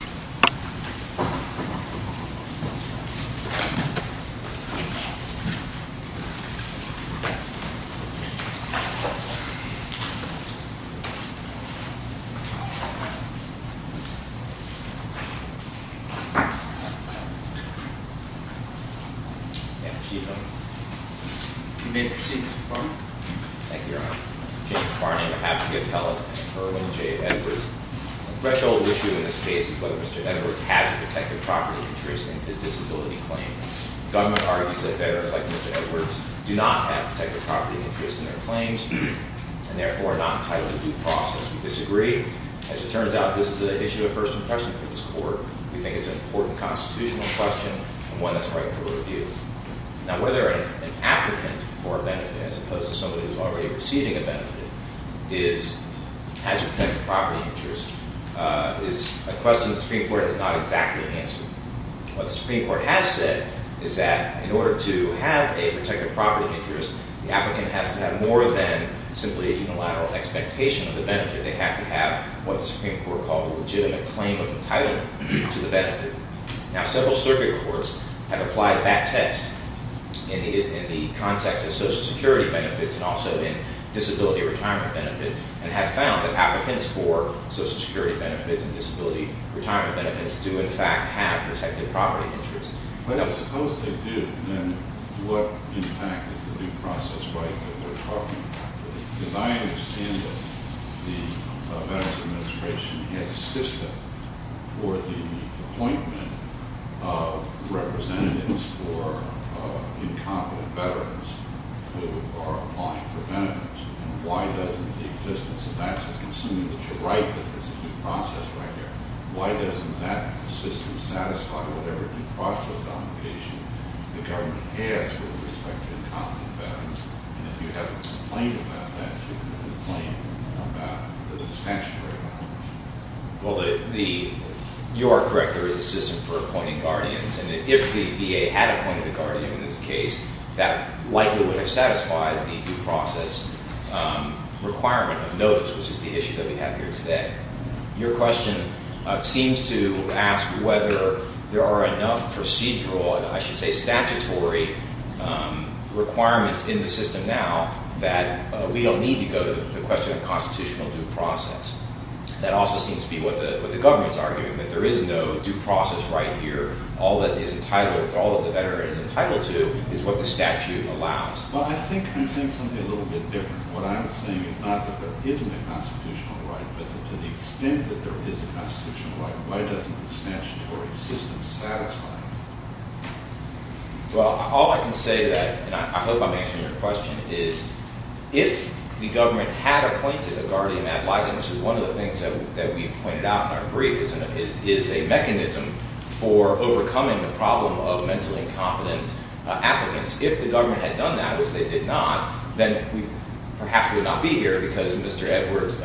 Thank you, your honor. James Farney, on behalf of the appellate, and Irwin J. Edwards. The threshold issue in this case is whether Mr. Edwards has a protected property interest in his disability claim. The government argues that veterans like Mr. Edwards do not have protected property interest in their claims and therefore are not entitled to due process. We disagree. As it turns out, this is an issue of first impression for this court. We think it's an important constitutional question and one that's right for review. Now whether an applicant for a benefit, as opposed to somebody who's already receiving a benefit, has a protected property interest is a question the Supreme Court has not exactly answered. What the Supreme Court has said is that in order to have a protected property interest, the applicant has to have more than simply a unilateral expectation of the benefit. They have to have what the Supreme Court called a legitimate claim of entitlement to the benefit. Now several circuit courts have applied that test in the context of Social Security benefits and also in disability retirement benefits, and have found that applicants for Social Security benefits and disability retirement benefits do in fact have protected property interests. But suppose they do, then what in fact is the due process right that we're talking about today? Because I understand that the Veterans Administration has a system for the appointment of representatives for incompetent veterans who are applying for benefits. And why doesn't the existence of that system, assuming that you're right that there's a due process right there, why doesn't that system satisfy whatever due process obligation the government has with respect to incompetent veterans? And if you have a complaint about that, you can complain about the dispensatory bond. Well, the U.R. Director is a system for appointing guardians, and if the VA had appointed a guardian in this case, that likely would have satisfied the due process requirement of notice, which is the issue that we have here today. Your question seems to ask whether there are enough procedural, and I should say statutory, requirements in the system now that we don't need to go to the question of constitutional due process. That also seems to be what the government's arguing, that there is no due process right here. All that the veteran is entitled to is what the statute allows. Well, I think you're saying something a little bit different. What I'm saying is not that there isn't a constitutional right, but to the extent that there is a constitutional right, why doesn't the statutory system satisfy that? Well, all I can say to that, and I hope I'm answering your question, is if the government had appointed a guardian at Lightning, which is one of the things that we pointed out in our brief, is a mechanism for overcoming the problem of mentally incompetent applicants. If the government had done that, which they did not, then we perhaps would not be here, because Mr. Edwards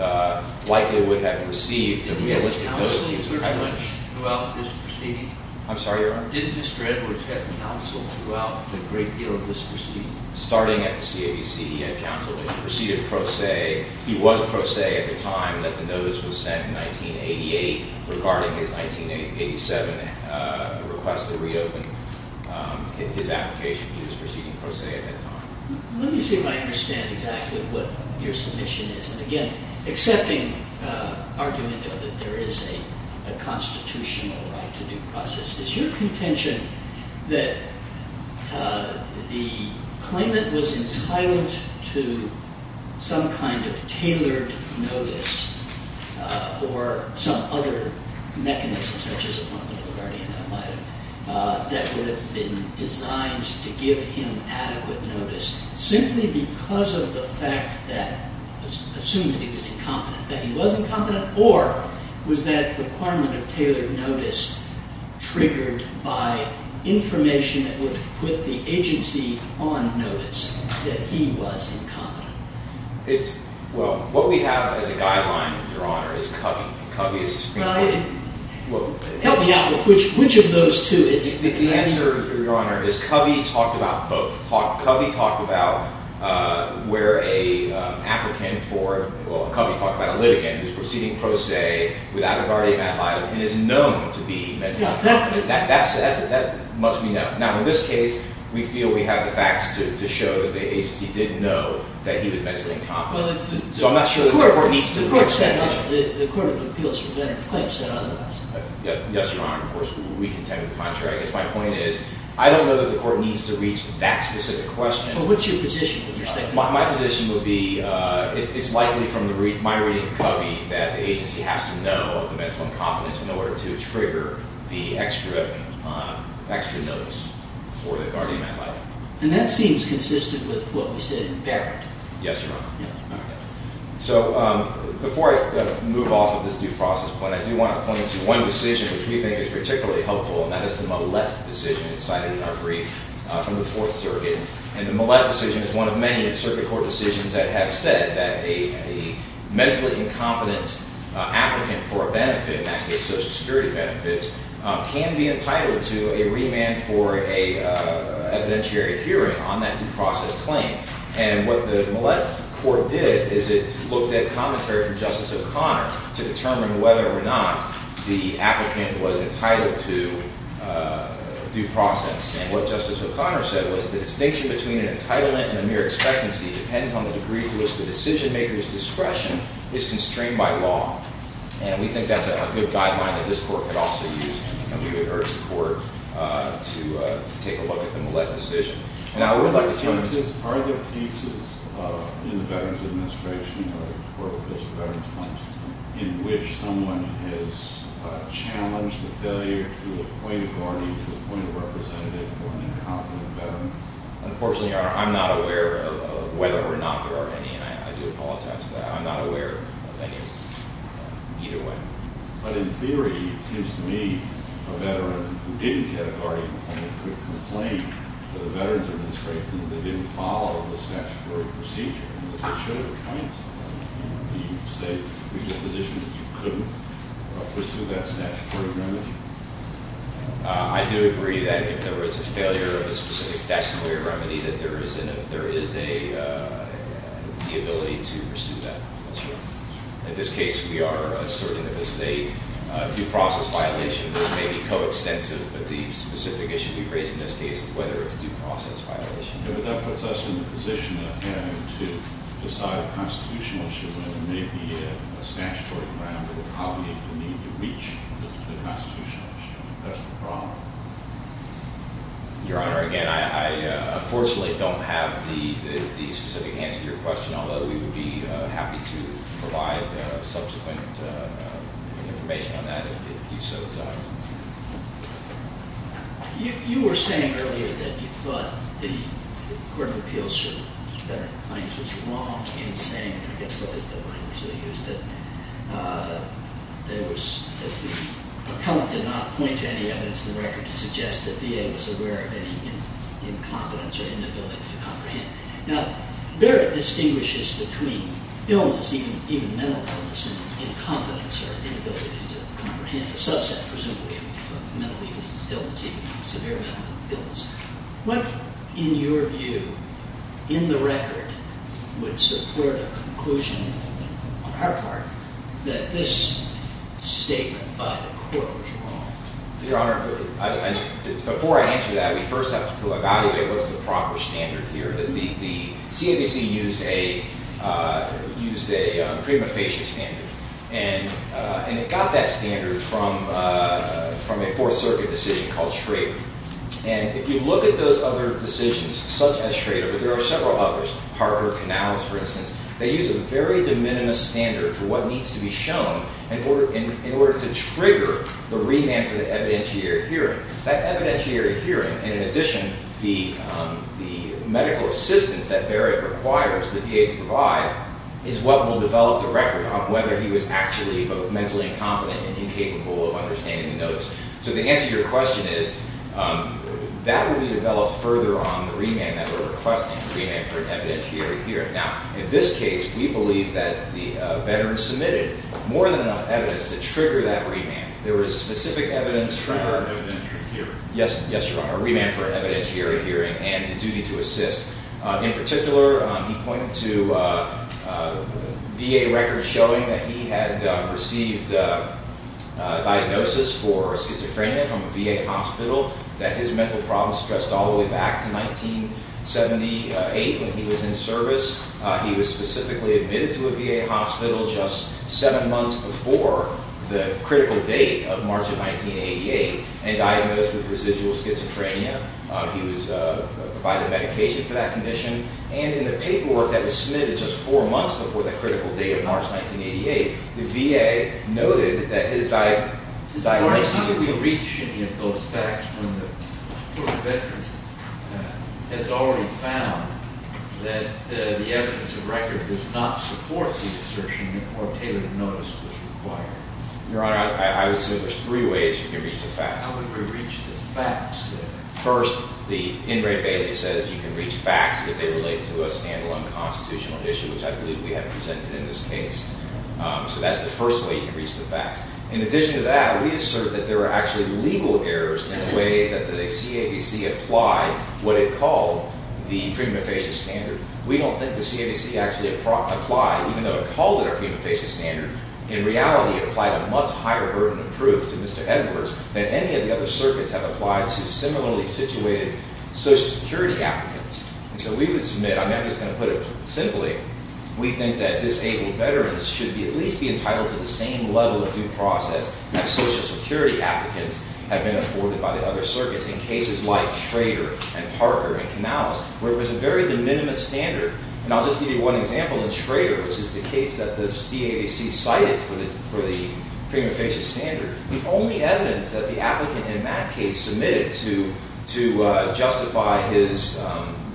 likely would have received a realistic notice. Did he have counsel pretty much throughout this proceeding? I'm sorry, Your Honor? Did Mr. Edwards have counsel throughout a great deal of this proceeding? Starting at the CAVC, he had counsel. He was pro se at the time that the notice was sent in 1988 regarding his 1987 request to reopen his application. He was proceeding pro se at that time. Let me see if I understand exactly what your submission is. Again, accepting the argument that there is a constitutional right to due process, is your contention that the claimant was entitled to some kind of tailored notice or some other mechanism, such as appointment of a guardian at Lighting, that would have been designed to give him adequate notice simply because of the fact that, assuming that he was incompetent, that he was incompetent, or was that requirement of tailored notice triggered by information that would have put the agency on notice that he was incompetent? Well, what we have as a guideline, Your Honor, is Covey. Covey is the Supreme Court. Help me out with which of those two is the answer. The answer, Your Honor, is Covey talked about both. Covey talked about where an applicant for – well, Covey talked about a litigant who was proceeding pro se without a guardian at Lighting and is known to be mentally incompetent. That much we know. Now, in this case, we feel we have the facts to show that the agency did know that he was mentally incompetent. So I'm not sure that the court needs to – The court set up – the Court of Appeals for Veterans Claims said otherwise. Yes, Your Honor. Of course, we contend with the contrary. I guess my point is I don't know that the court needs to reach that specific question. Well, what's your position with respect to that? My position would be it's likely from my reading of Covey that the agency has to know of the mental incompetence in order to trigger the extra notice for the guardian at Lighting. And that seems consistent with what we said in Barrett. Yes, Your Honor. All right. So before I move off of this due process point, I do want to point to one decision which we think is particularly helpful, and that is the Millett decision cited in our brief from the Fourth Circuit. And the Millett decision is one of many in circuit court decisions that have said that a mentally incompetent applicant for a benefit, and that is Social Security benefits, can be entitled to a remand for an evidentiary hearing on that due process claim. And what the Millett court did is it looked at commentary from Justice O'Connor to determine whether or not the applicant was entitled to due process. And what Justice O'Connor said was the distinction between an entitlement and a mere expectancy depends on the degree to which the decision-maker's discretion is constrained by law. And we think that's a good guideline that this court could also use. And we would urge the court to take a look at the Millett decision. And I would like to turn this to you. Are there pieces in the Veterans Administration or the Court of Appeals for Veterans funds in which someone has challenged the failure to appoint a guardian to appoint a representative for an incompetent veteran? Unfortunately, Your Honor, I'm not aware of whether or not there are any. And I do apologize for that. I'm not aware of any either way. But in theory, it seems to me a veteran who didn't get a guardian appointment could complain to the Veterans Administration that they didn't follow the statutory procedure and that they should have appointed someone. Do you say, do you have a position that you couldn't pursue that statutory remedy? I do agree that if there was a failure of a specific statutory remedy, that there is the ability to pursue that. That's right. In this case, we are asserting that this is a due process violation that may be coextensive with the specific issue we've raised in this case of whether it's a due process violation. But that puts us in the position of having to decide a constitutional issue when it may be a statutory remedy. How do we need to reach the constitutional issue? That's the problem. Your Honor, again, I unfortunately don't have the specific answer to your question, although we would be happy to provide subsequent information on that if you so desire. You were saying earlier that you thought the Court of Appeals for Veterans Claims was wrong in saying, I guess that was the language they used, that the appellant did not point to any evidence in the record to suggest that VA was aware of any incompetence or inability to comprehend. Now, Barrett distinguishes between illness, even mental illness, and incompetence or inability to comprehend. And the subset, presumably, of mental illness and illness, even severe mental illness. What, in your view, in the record, would support a conclusion on our part that this statement by the Court was wrong? Your Honor, before I answer that, we first have to evaluate what's the proper standard here. The CABC used a prima facie standard, and it got that standard from a Fourth Circuit decision called Schrader. And if you look at those other decisions, such as Schrader, but there are several others, Parker, Canals, for instance, they use a very de minimis standard for what needs to be shown in order to trigger the remand for the evidentiary hearing. That evidentiary hearing, and in addition, the medical assistance that Barrett requires the VA to provide, is what will develop the record on whether he was actually both mentally incompetent and incapable of understanding notes. So the answer to your question is, that would be developed further on the remand that we're requesting, the remand for an evidentiary hearing. Now, in this case, we believe that the veteran submitted more than enough evidence to trigger that remand. There was specific evidence for- Remand for an evidentiary hearing. Yes, Your Honor, remand for an evidentiary hearing and the duty to assist. In particular, he pointed to VA records showing that he had received a diagnosis for schizophrenia from a VA hospital, that his mental problems stressed all the way back to 1978 when he was in service. He was specifically admitted to a VA hospital just seven months before the critical date of March of 1988 and diagnosed with residual schizophrenia. He was provided medication for that condition, and in the paperwork that was submitted just four months before the critical date of March 1988, the VA noted that his diagnosis- Your Honor, how could we reach any of those facts when the court of inference has already found that the evidence of record does not support the assertion that more tailored notice was required? Your Honor, I would say there's three ways you can reach the facts. How would we reach the facts? First, Ingray Bailey says you can reach facts if they relate to a stand-alone constitutional issue, which I believe we have presented in this case. So that's the first way you can reach the facts. In addition to that, we assert that there are actually legal errors in the way that the CAVC applied what it called the pre-mufascia standard. We don't think the CAVC actually applied, even though it called it a pre-mufascia standard. In reality, it applied a much higher burden of proof to Mr. Edwards than any of the other circuits have applied to similarly situated Social Security applicants. And so we would submit, I'm just going to put it simply, we think that disabled veterans should at least be entitled to the same level of due process that Social Security applicants have been afforded by the other circuits in cases like Schrader and Parker and Canales, where it was a very de minimis standard. And I'll just give you one example. In Schrader, which is the case that the CAVC cited for the pre-mufascia standard, the only evidence that the applicant in that case submitted to justify his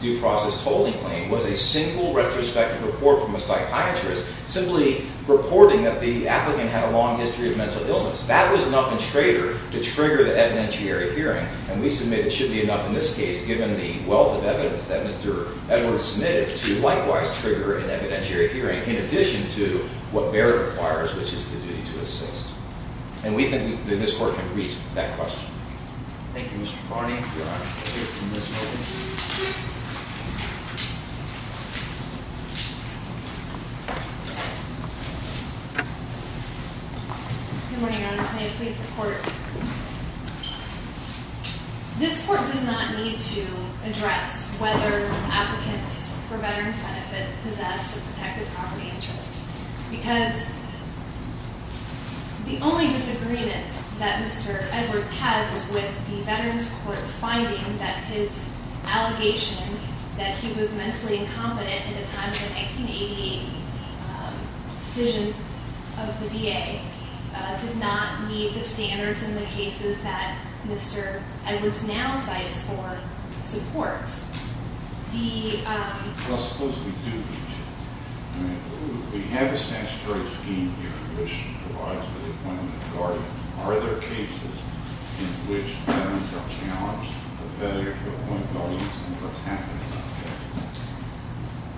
due process tolling claim was a single retrospective report from a psychiatrist simply reporting that the applicant had a long history of mental illness. That was enough in Schrader to trigger the evidentiary hearing. And we submit it should be enough in this case, given the wealth of evidence that Mr. Edwards submitted, to likewise trigger an evidentiary hearing in addition to what Baird requires, which is the duty to assist. And we think that this Court can reach that question. Thank you, Mr. Barney. Good morning, Your Honors. May it please the Court. This Court does not need to address whether applicants for veterans' benefits possess a protected property interest because the only disagreement that Mr. Edwards has is with the Veterans Court's finding that his allegation that he was mentally incompetent at the time of the 1980 decision of the VA did not meet the standards in the cases that Mr. Edwards now cites for support. The- Well, suppose we do meet it. I mean, we have a statutory scheme here, which provides for the appointment of guardians. Are there cases in which veterans are challenged, a failure to appoint guardians, and what's happening in those cases?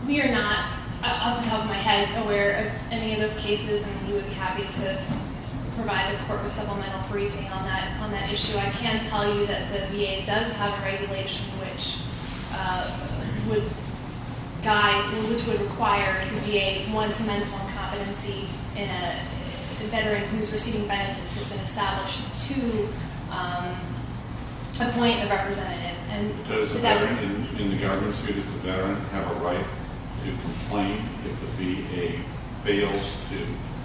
We are not, off the top of my head, aware of any of those cases, and we would be happy to provide the Court with supplemental briefing on that issue. I can tell you that the VA does have regulation which would guide, which would require the VA, once mental incompetency in a veteran who's receiving benefits has been established, to appoint a representative. And- Does a veteran in the government's view, does the veteran have a right to complain if the VA fails to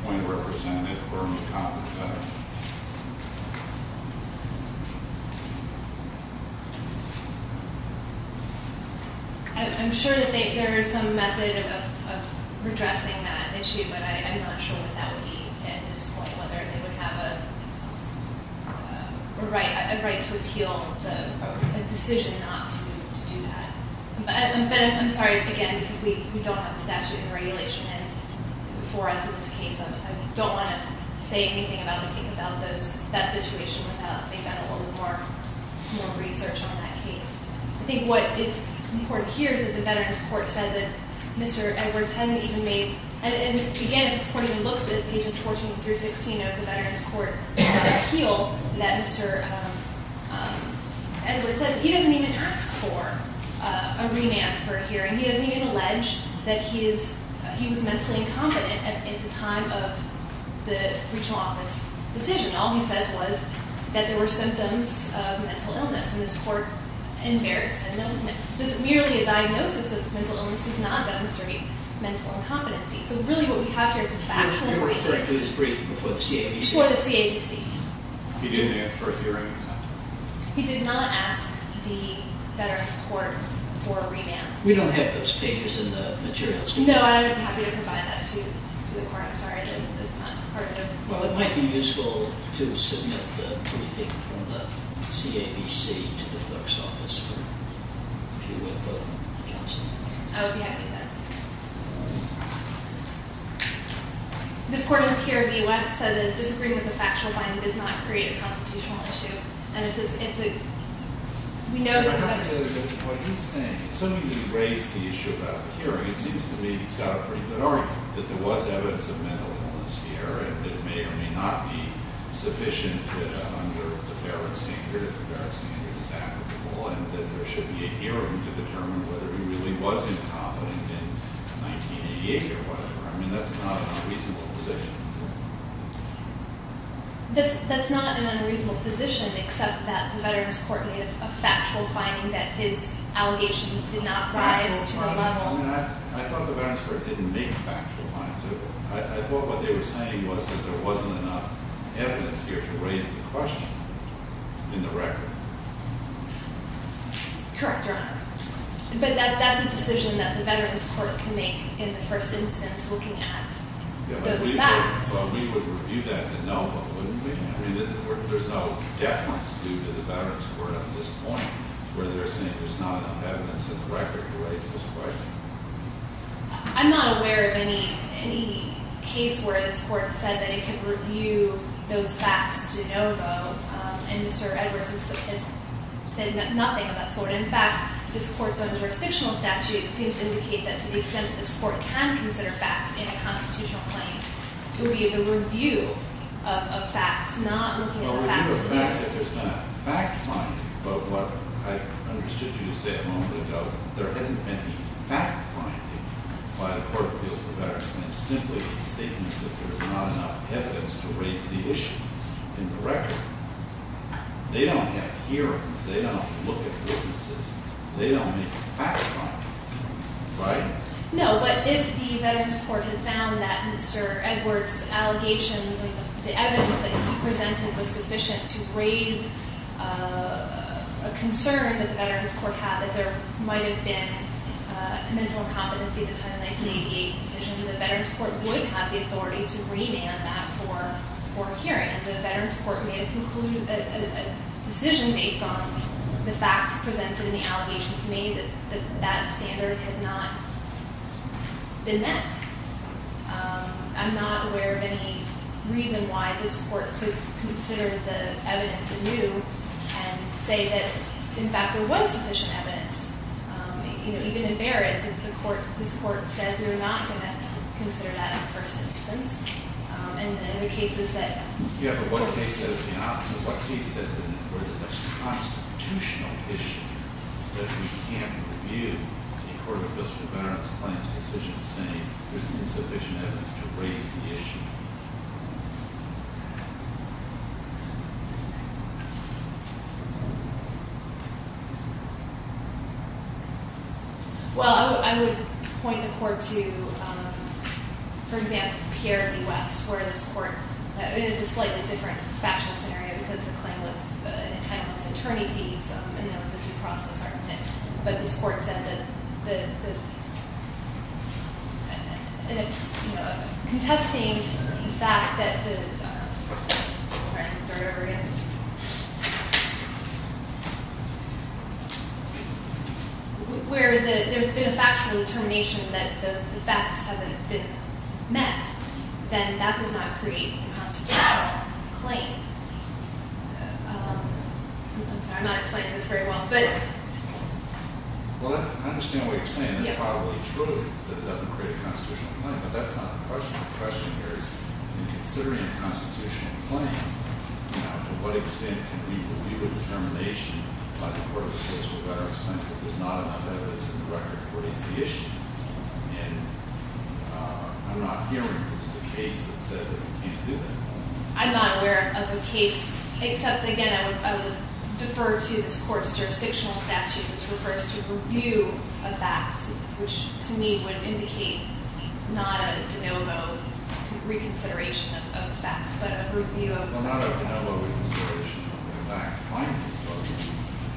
appoint a representative for an incompetent veteran? I'm sure that there is some method of redressing that issue, but I'm not sure what that would be at this point, whether they would have a right to appeal a decision not to do that. But I'm sorry, again, because we don't have the statute of regulation for us in this case. I don't want to say anything about that situation without making that a little more research on that case. I think what is important here is that the Veterans Court said that Mr. Edwards hadn't even made, and again, this Court even looks at pages 14 through 16 of the Veterans Court appeal, that Mr. Edwards says he doesn't even ask for a remand for a hearing. He doesn't even allege that he was mentally incompetent at the time of the regional office decision. All he says was that there were symptoms of mental illness, and this Court embarrassed him. Just merely a diagnosis of mental illness does not demonstrate mental incompetency. So really what we have here is a factual- You were referring to his briefing before the CABC. Before the CABC. He didn't ask for a hearing. He did not ask the Veterans Court for a remand. We don't have those pages in the materials. No, I'm happy to provide that to the Court. I'm sorry that it's not part of the- Well, it might be useful to submit the briefing from the CABC to the clerk's office for, if you would, both counsel. I would be happy to do that. This Court in the PRB West said that disagreeing with a factual finding does not create a constitutional issue, and if this- if the- we know that- What he's saying is something that raised the issue about the hearing. It seems to me he's got a pretty good argument, that there was evidence of mental illness here, and that it may or may not be sufficient that under the Barrett standard, the Barrett standard is applicable, and that there should be a hearing to determine whether he really was incompetent in 1988 or whatever. I mean, that's not an unreasonable position, is it? That's not an unreasonable position, except that the Veterans Court made a factual finding that his allegations did not rise to the level- Factual finding. I thought the Veterans Court didn't make factual findings. I thought what they were saying was that there wasn't enough evidence here to raise the question in the record. Correct, Your Honor. But that's a decision that the Veterans Court can make in the first instance, looking at those facts. Yeah, but we would review that de novo, wouldn't we? I mean, there's no deference due to the Veterans Court at this point, where they're saying there's not enough evidence in the record to raise this question. I'm not aware of any case where this Court said that it could review those facts de novo, and Mr. Edwards has said nothing of that sort. In fact, this Court's own jurisdictional statute seems to indicate that, to the extent that this Court can consider facts in a constitutional claim, it would be the review of facts, not looking at the facts here. Well, review of facts, if there's been a fact finding. But what I understood you to say a moment ago is that there hasn't been any fact finding by the Court of Appeals for Veterans Claims, simply a statement that there's not enough evidence to raise the issue in the record. They don't have hearings. They don't look at witnesses. They don't make fact findings, right? No. But if the Veterans Court had found that Mr. Edwards' allegations, the evidence that he presented was sufficient to raise a concern that the Veterans Court had, that there might have been a mental incompetency at the time of the 1988 decision, the Veterans Court would have the authority to remand that for a hearing. If the Veterans Court made a decision based on the facts presented and the allegations made, that that standard had not been met. I'm not aware of any reason why this Court could consider the evidence anew and say that, in fact, there was sufficient evidence. You know, even in Barrett, this Court said we're not going to consider that in the first instance. And in the cases that... So what do you say, then, where there's this constitutional issue that we can't review a Court of Appeals for Veterans Claims decision saying there's insufficient evidence to raise the issue? Well, I would point the Court to, for example, Pierre B. West, where this Court... It is a slightly different factual scenario, because the claim was entitled to attorney fees, and there was a due process argument. But this Court said that... Contesting the fact that the... Sorry, let me start over again. Where there's been a factual determination that the facts haven't been met, then that does not create a constitutional claim. I'm sorry, I'm not explaining this very well, but... Well, I understand what you're saying. It's probably true that it doesn't create a constitutional claim, but that's not the question. The question here is, in considering a constitutional claim, to what extent can we review a determination by the Court of Appeals for Veterans Claims that there's not enough evidence in the record to raise the issue? And I'm not hearing that there's a case that said that you can't do that. Well, not a de novo reconsideration of the fact finding, or do you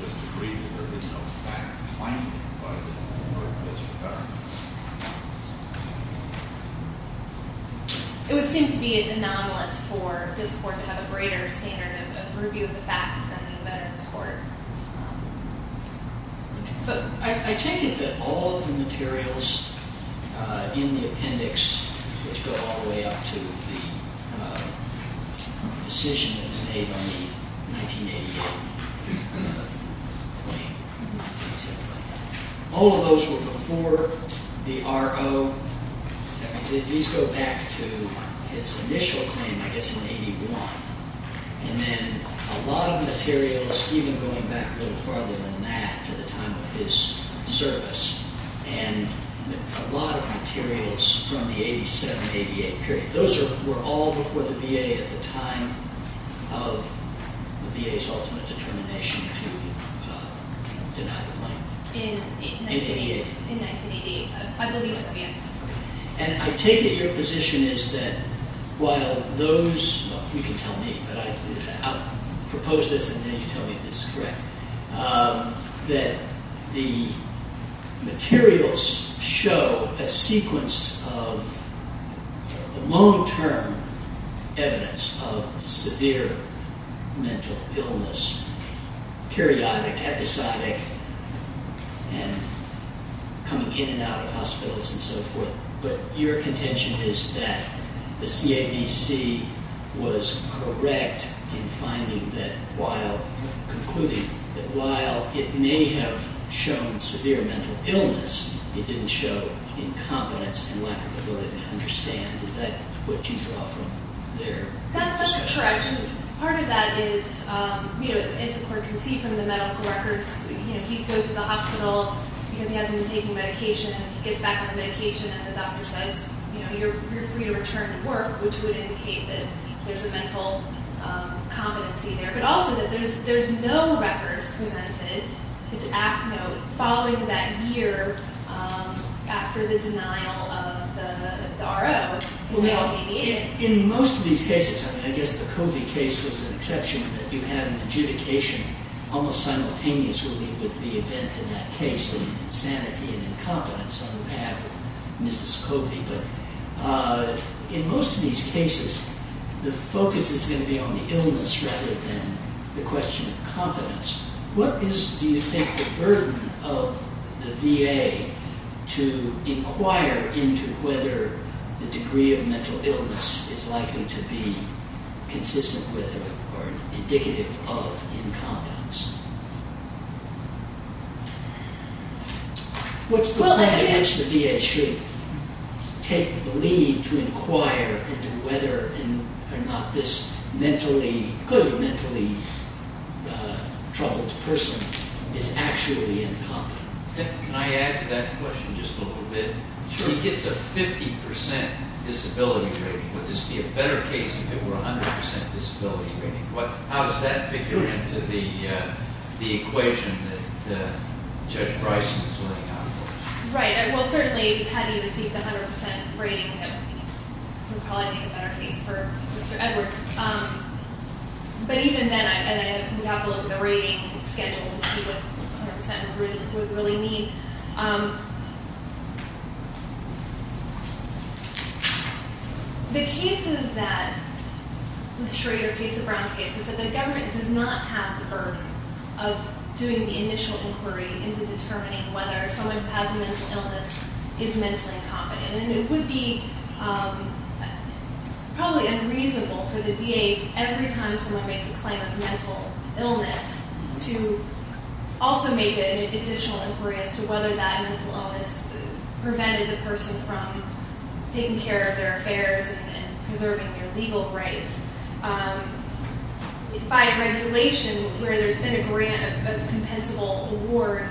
just agree that there is no fact finding in the record that you have? It would seem to be anomalous for this Court to have a greater standard of review of the facts than the Veterans Court. I take it that all of the materials in the appendix, which go all the way up to the decision that was made on the 1988 claim, all of those were before the RO. These go back to his initial claim, I guess, in 81. And then a lot of materials, even going back a little farther than that, to the time of his service, and a lot of materials from the 87-88 period. Those were all before the VA at the time of the VA's ultimate determination to deny the claim. In 1988. In 1988. I believe so, yes. And I take it your position is that while those, well, you can tell me, but I proposed this and then you tell me if this is correct, that the materials show a sequence of long-term evidence of severe mental illness, periodic, episodic, and coming in and out of hospitals and so forth. But your contention is that the CAVC was correct in finding that while concluding that while it may have shown severe mental illness, it didn't show incompetence and lack of ability to understand. Is that what you draw from their discussion? That's correct. Part of that is, as the Court can see from the medical records, he goes to the hospital because he hasn't been taking medication, and he gets back on the medication and the doctor says, you're free to return to work, which would indicate that there's a mental competency there. But also that there's no records presented following that year after the denial of the RO in 1988. In most of these cases, I mean, I guess the Covey case was an exception, but you had an adjudication almost simultaneously with the event in that case of insanity and incompetence on behalf of Mrs. Covey. In most of these cases, the focus is going to be on the illness rather than the question of competence. What is, do you think, the burden of the VA to inquire into whether the degree of mental illness is likely to be consistent with or indicative of incompetence? What's the burden against the VA should take the lead to inquire into whether or not this mentally, clearly mentally troubled person is actually incompetent? Can I add to that question just a little bit? Sure. He gets a 50% disability rating. Would this be a better case if it were 100% disability rating? How does that figure into the equation that Judge Bryson is looking out for? Right. Well, certainly, had he received a 100% rating, it would probably be a better case for Mr. Edwards. But even then, we have to look at the rating schedule to see what 100% would really mean. The cases that, the Schrader case, the Brown case, is that the government does not have the burden of doing the initial inquiry into determining whether someone who has a mental illness is mentally incompetent. And it would be probably unreasonable for the VA, every time someone makes a claim of mental illness, to also make an additional inquiry as to whether that mental illness prevented the person from taking care of their affairs and preserving their legal rights. By regulation, where there's been a grant of a compensable award,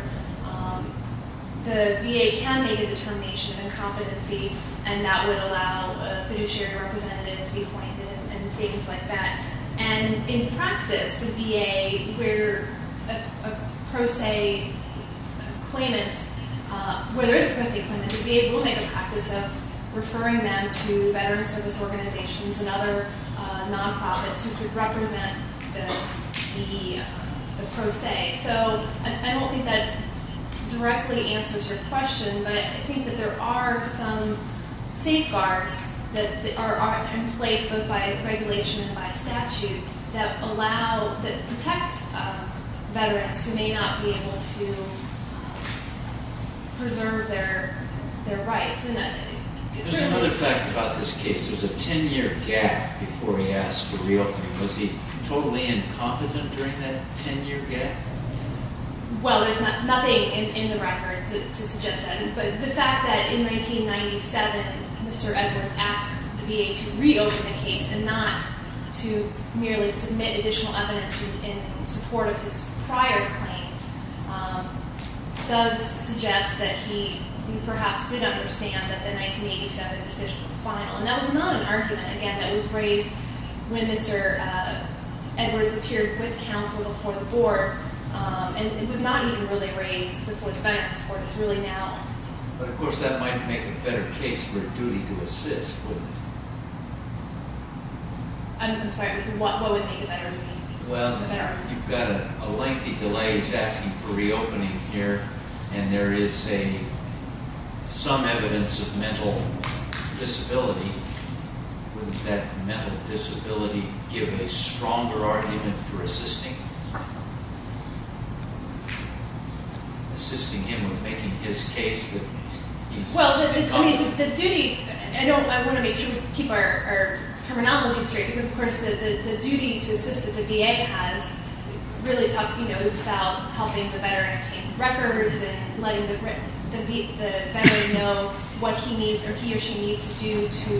the VA can make a determination of incompetency, and that would allow a fiduciary representative to be appointed and things like that. And in practice, the VA, where a pro se claimant, where there is a pro se claimant, the VA will make a practice of referring them to Veterans Service Organizations and other nonprofits who could represent the pro se. So I don't think that directly answers your question, but I think that there are some safeguards that are in place, both by regulation and by statute, that protect veterans who may not be able to preserve their rights. There's another fact about this case. There's a 10-year gap before he asked to reopen. Was he totally incompetent during that 10-year gap? Well, there's nothing in the records to suggest that. But the fact that in 1997, Mr. Edwards asked the VA to reopen the case and not to merely submit additional evidence in support of his prior claim does suggest that he perhaps did understand that the 1987 decision was final. And that was not an argument, again, that was raised when Mr. Edwards appeared with counsel before the Board, and it was not even really raised before the Veterans Court. It's really now. But, of course, that might make a better case for duty to assist, wouldn't it? I'm sorry, what would make a better case? Well, you've got a lengthy delay. He's asking for reopening here, and there is some evidence of mental disability. Wouldn't that mental disability give a stronger argument for assisting him? Well, I want to make sure we keep our terminology straight because, of course, the duty to assist that the VA has really is about helping the veteran take records and letting the veteran know what he or she needs to do to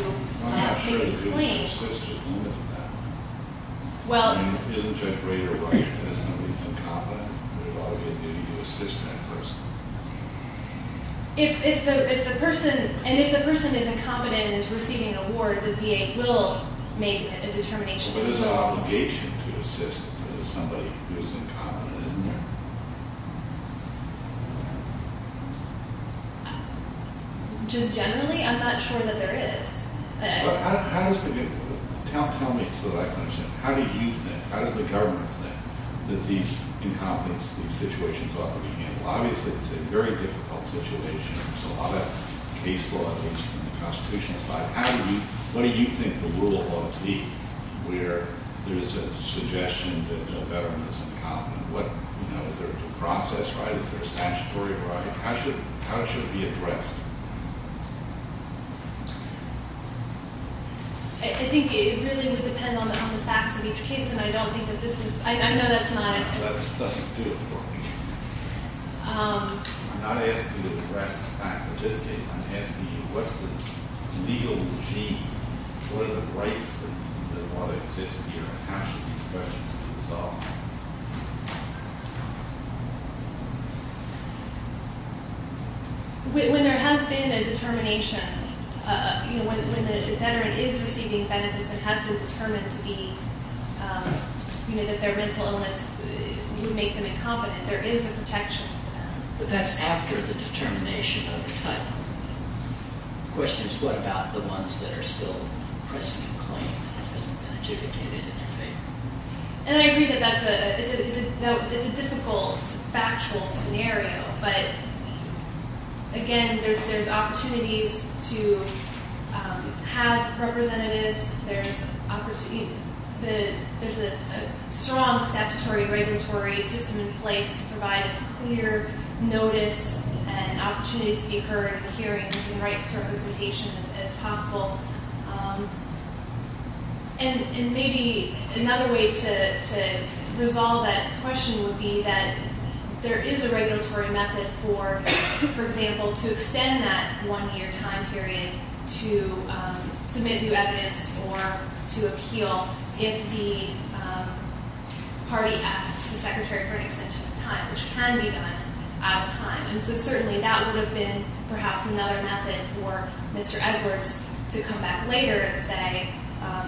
make a claim. Well, if the person is incompetent and is receiving an award, the VA will make a determination. But there's an obligation to assist somebody who is incompetent, isn't there? Just generally, I'm not sure that there is. Tell me so that I can understand. How do you think, how does the government think that these incompetence situations ought to be handled? Obviously, it's a very difficult situation. There's a lot of case law, at least on the constitutional side. What do you think the rule ought to be where there is a suggestion that a veteran is incompetent? Is there a process, right? Is there a statutory right? How should it be addressed? I think it really would depend on the facts of each case, and I don't think that this is—I know that's not— That doesn't do it for me. I'm not asking you to address the facts of this case. I'm asking you what's the legal gene, what are the rights that ought to exist here, and how should these questions be resolved? When there has been a determination, you know, when the veteran is receiving benefits and has been determined to be— you know, that their mental illness would make them incompetent, there is a protection. But that's after the determination of the title. The question is what about the ones that are still pressing the claim and it hasn't been adjudicated in their favor? And I agree that that's a—it's a difficult, factual scenario. But, again, there's opportunities to have representatives. There's a strong statutory regulatory system in place to provide as clear notice and opportunities to be heard in hearings and rights to representation as possible. And maybe another way to resolve that question would be that there is a regulatory method for, for example, to extend that one-year time period to submit new evidence or to appeal if the party asks the Secretary for an extension of time, which can be done out of time. And so certainly that would have been perhaps another method for Mr. Edwards to come back later and say,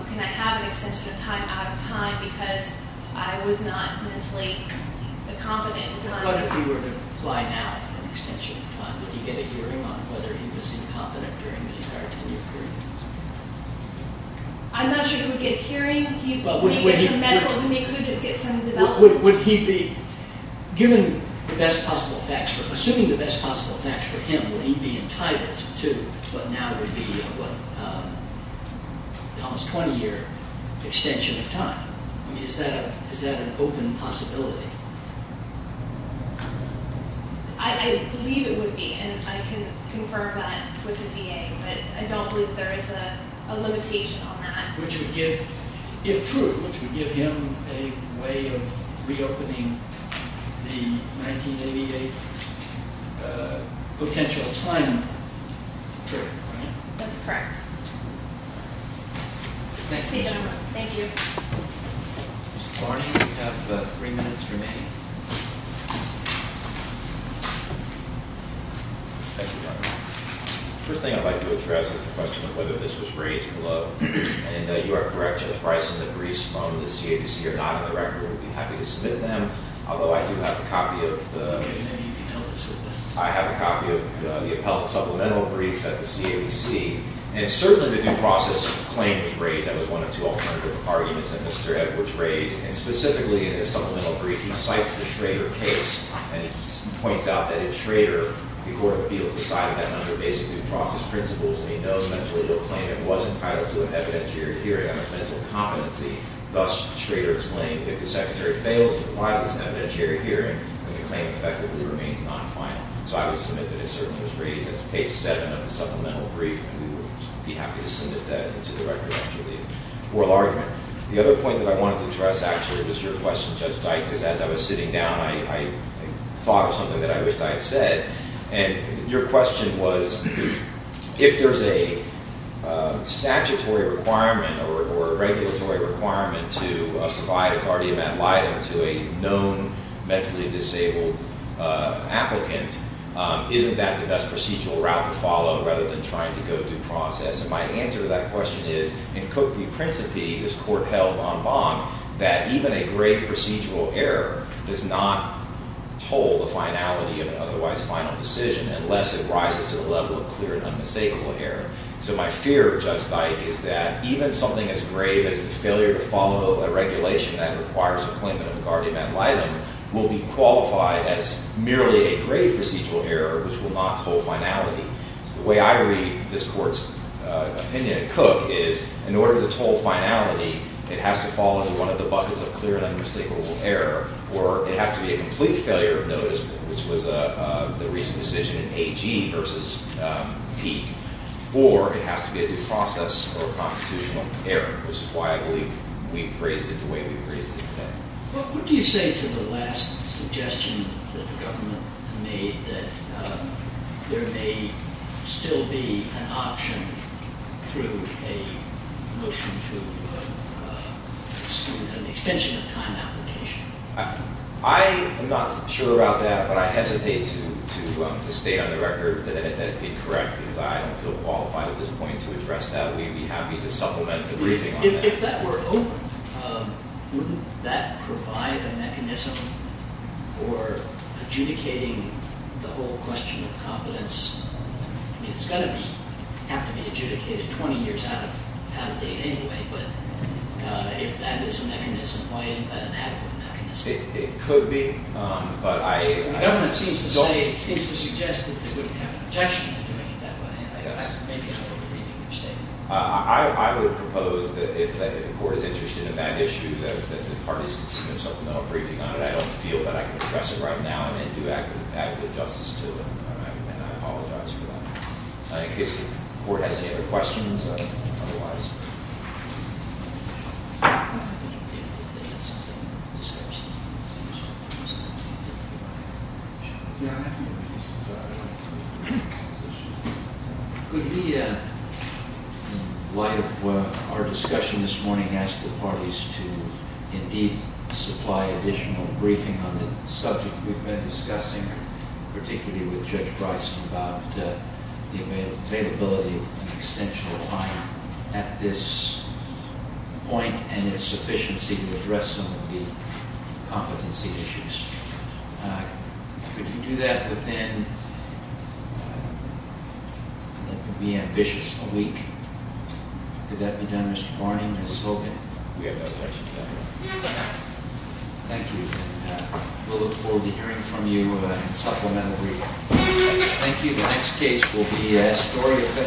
can I have an extension of time out of time because I was not mentally incompetent? What if he were to apply now for an extension of time? Would he get a hearing on whether he was incompetent during the entire 10-year period? I'm not sure he would get a hearing. He may get some medical—he may get some development. Would he be—given the best possible facts for—assuming the best possible facts for him, would he be entitled to what now would be what almost 20-year extension of time? I mean, is that an open possibility? I believe it would be, and I can confirm that with the VA. But I don't believe there is a limitation on that. Which would give—if true, which would give him a way of reopening the 1988 potential time period, right? That's correct. Thank you. Ms. Barney, you have three minutes remaining. Thank you, Your Honor. The first thing I'd like to address is the question of whether this was raised below. And you are correct, Judge Bryson. The briefs from the CABC are not on the record. We'd be happy to submit them. Although I do have a copy of the— Maybe you can help us with that. I have a copy of the appellate supplemental brief at the CABC. And certainly the due process claim was raised. That was one of two alternative arguments that Mr. Edwards raised. And specifically in his supplemental brief, he cites the Schrader case. And he points out that in Schrader, the Court of Appeals decided that under basic due process principles, and he knows mentally the claimant was entitled to an evidentiary hearing on his mental competency. Thus, Schrader explained, if the Secretary fails to apply this evidentiary hearing, then the claim effectively remains non-final. So I would submit that it certainly was raised. That's page 7 of the supplemental brief. And we would be happy to submit that into the record after the oral argument. The other point that I wanted to address, actually, was your question, Judge Dyke, because as I was sitting down, I thought of something that I wished I had said. And your question was, if there's a statutory requirement or a regulatory requirement to provide a guardian ad litem to a known mentally disabled applicant, isn't that the best procedural route to follow rather than trying to go due process? And my answer to that question is, in cookley principi, this Court held en banc that even a grave procedural error does not toll the finality of an otherwise final decision unless it rises to the level of clear and unmistakable error. So my fear, Judge Dyke, is that even something as grave as the failure to follow a regulation that requires a claimant of a guardian ad litem will be qualified as merely a grave procedural error, which will not toll finality. So the way I read this Court's opinion in cook is, in order to toll finality, it has to fall into one of the buckets of clear and unmistakable error. Or it has to be a complete failure of notice, which was the recent decision in AG versus Peek. Or it has to be a due process or a constitutional error, which is why I believe we've phrased it the way we've phrased it today. What do you say to the last suggestion that the government made that there may still be an option through a motion to an extension of time application? I am not sure about that, but I hesitate to state on the record that it's incorrect, because I don't feel qualified at this point to address that. We'd be happy to supplement the briefing on that. If that were open, wouldn't that provide a mechanism for adjudicating the whole question of competence? I mean, it's going to have to be adjudicated 20 years out of date anyway. But if that is a mechanism, why isn't that an adequate mechanism? It could be. The government seems to suggest that they wouldn't have an objection to doing it that way. Maybe I'm over-reading your statement. I would propose that if the court is interested in that issue, that the parties can submit something on a briefing on it. I don't feel that I can address it right now. I may do adequate justice to it, and I apologize for that. In case the court has any other questions otherwise. Could we, in light of our discussion this morning, ask the parties to indeed supply additional briefing on the subject we've been discussing, particularly with Judge Bryson, about the availability of an extensional client at this point, and its sufficiency to address some of the competency issues. Could you do that within, let it be ambitious, a week? Could that be done, Mr. Barney, Ms. Hogan? We have no objection to that at all. Thank you. We'll look forward to hearing from you on supplemental briefing. Thank you. The next case will be a story of-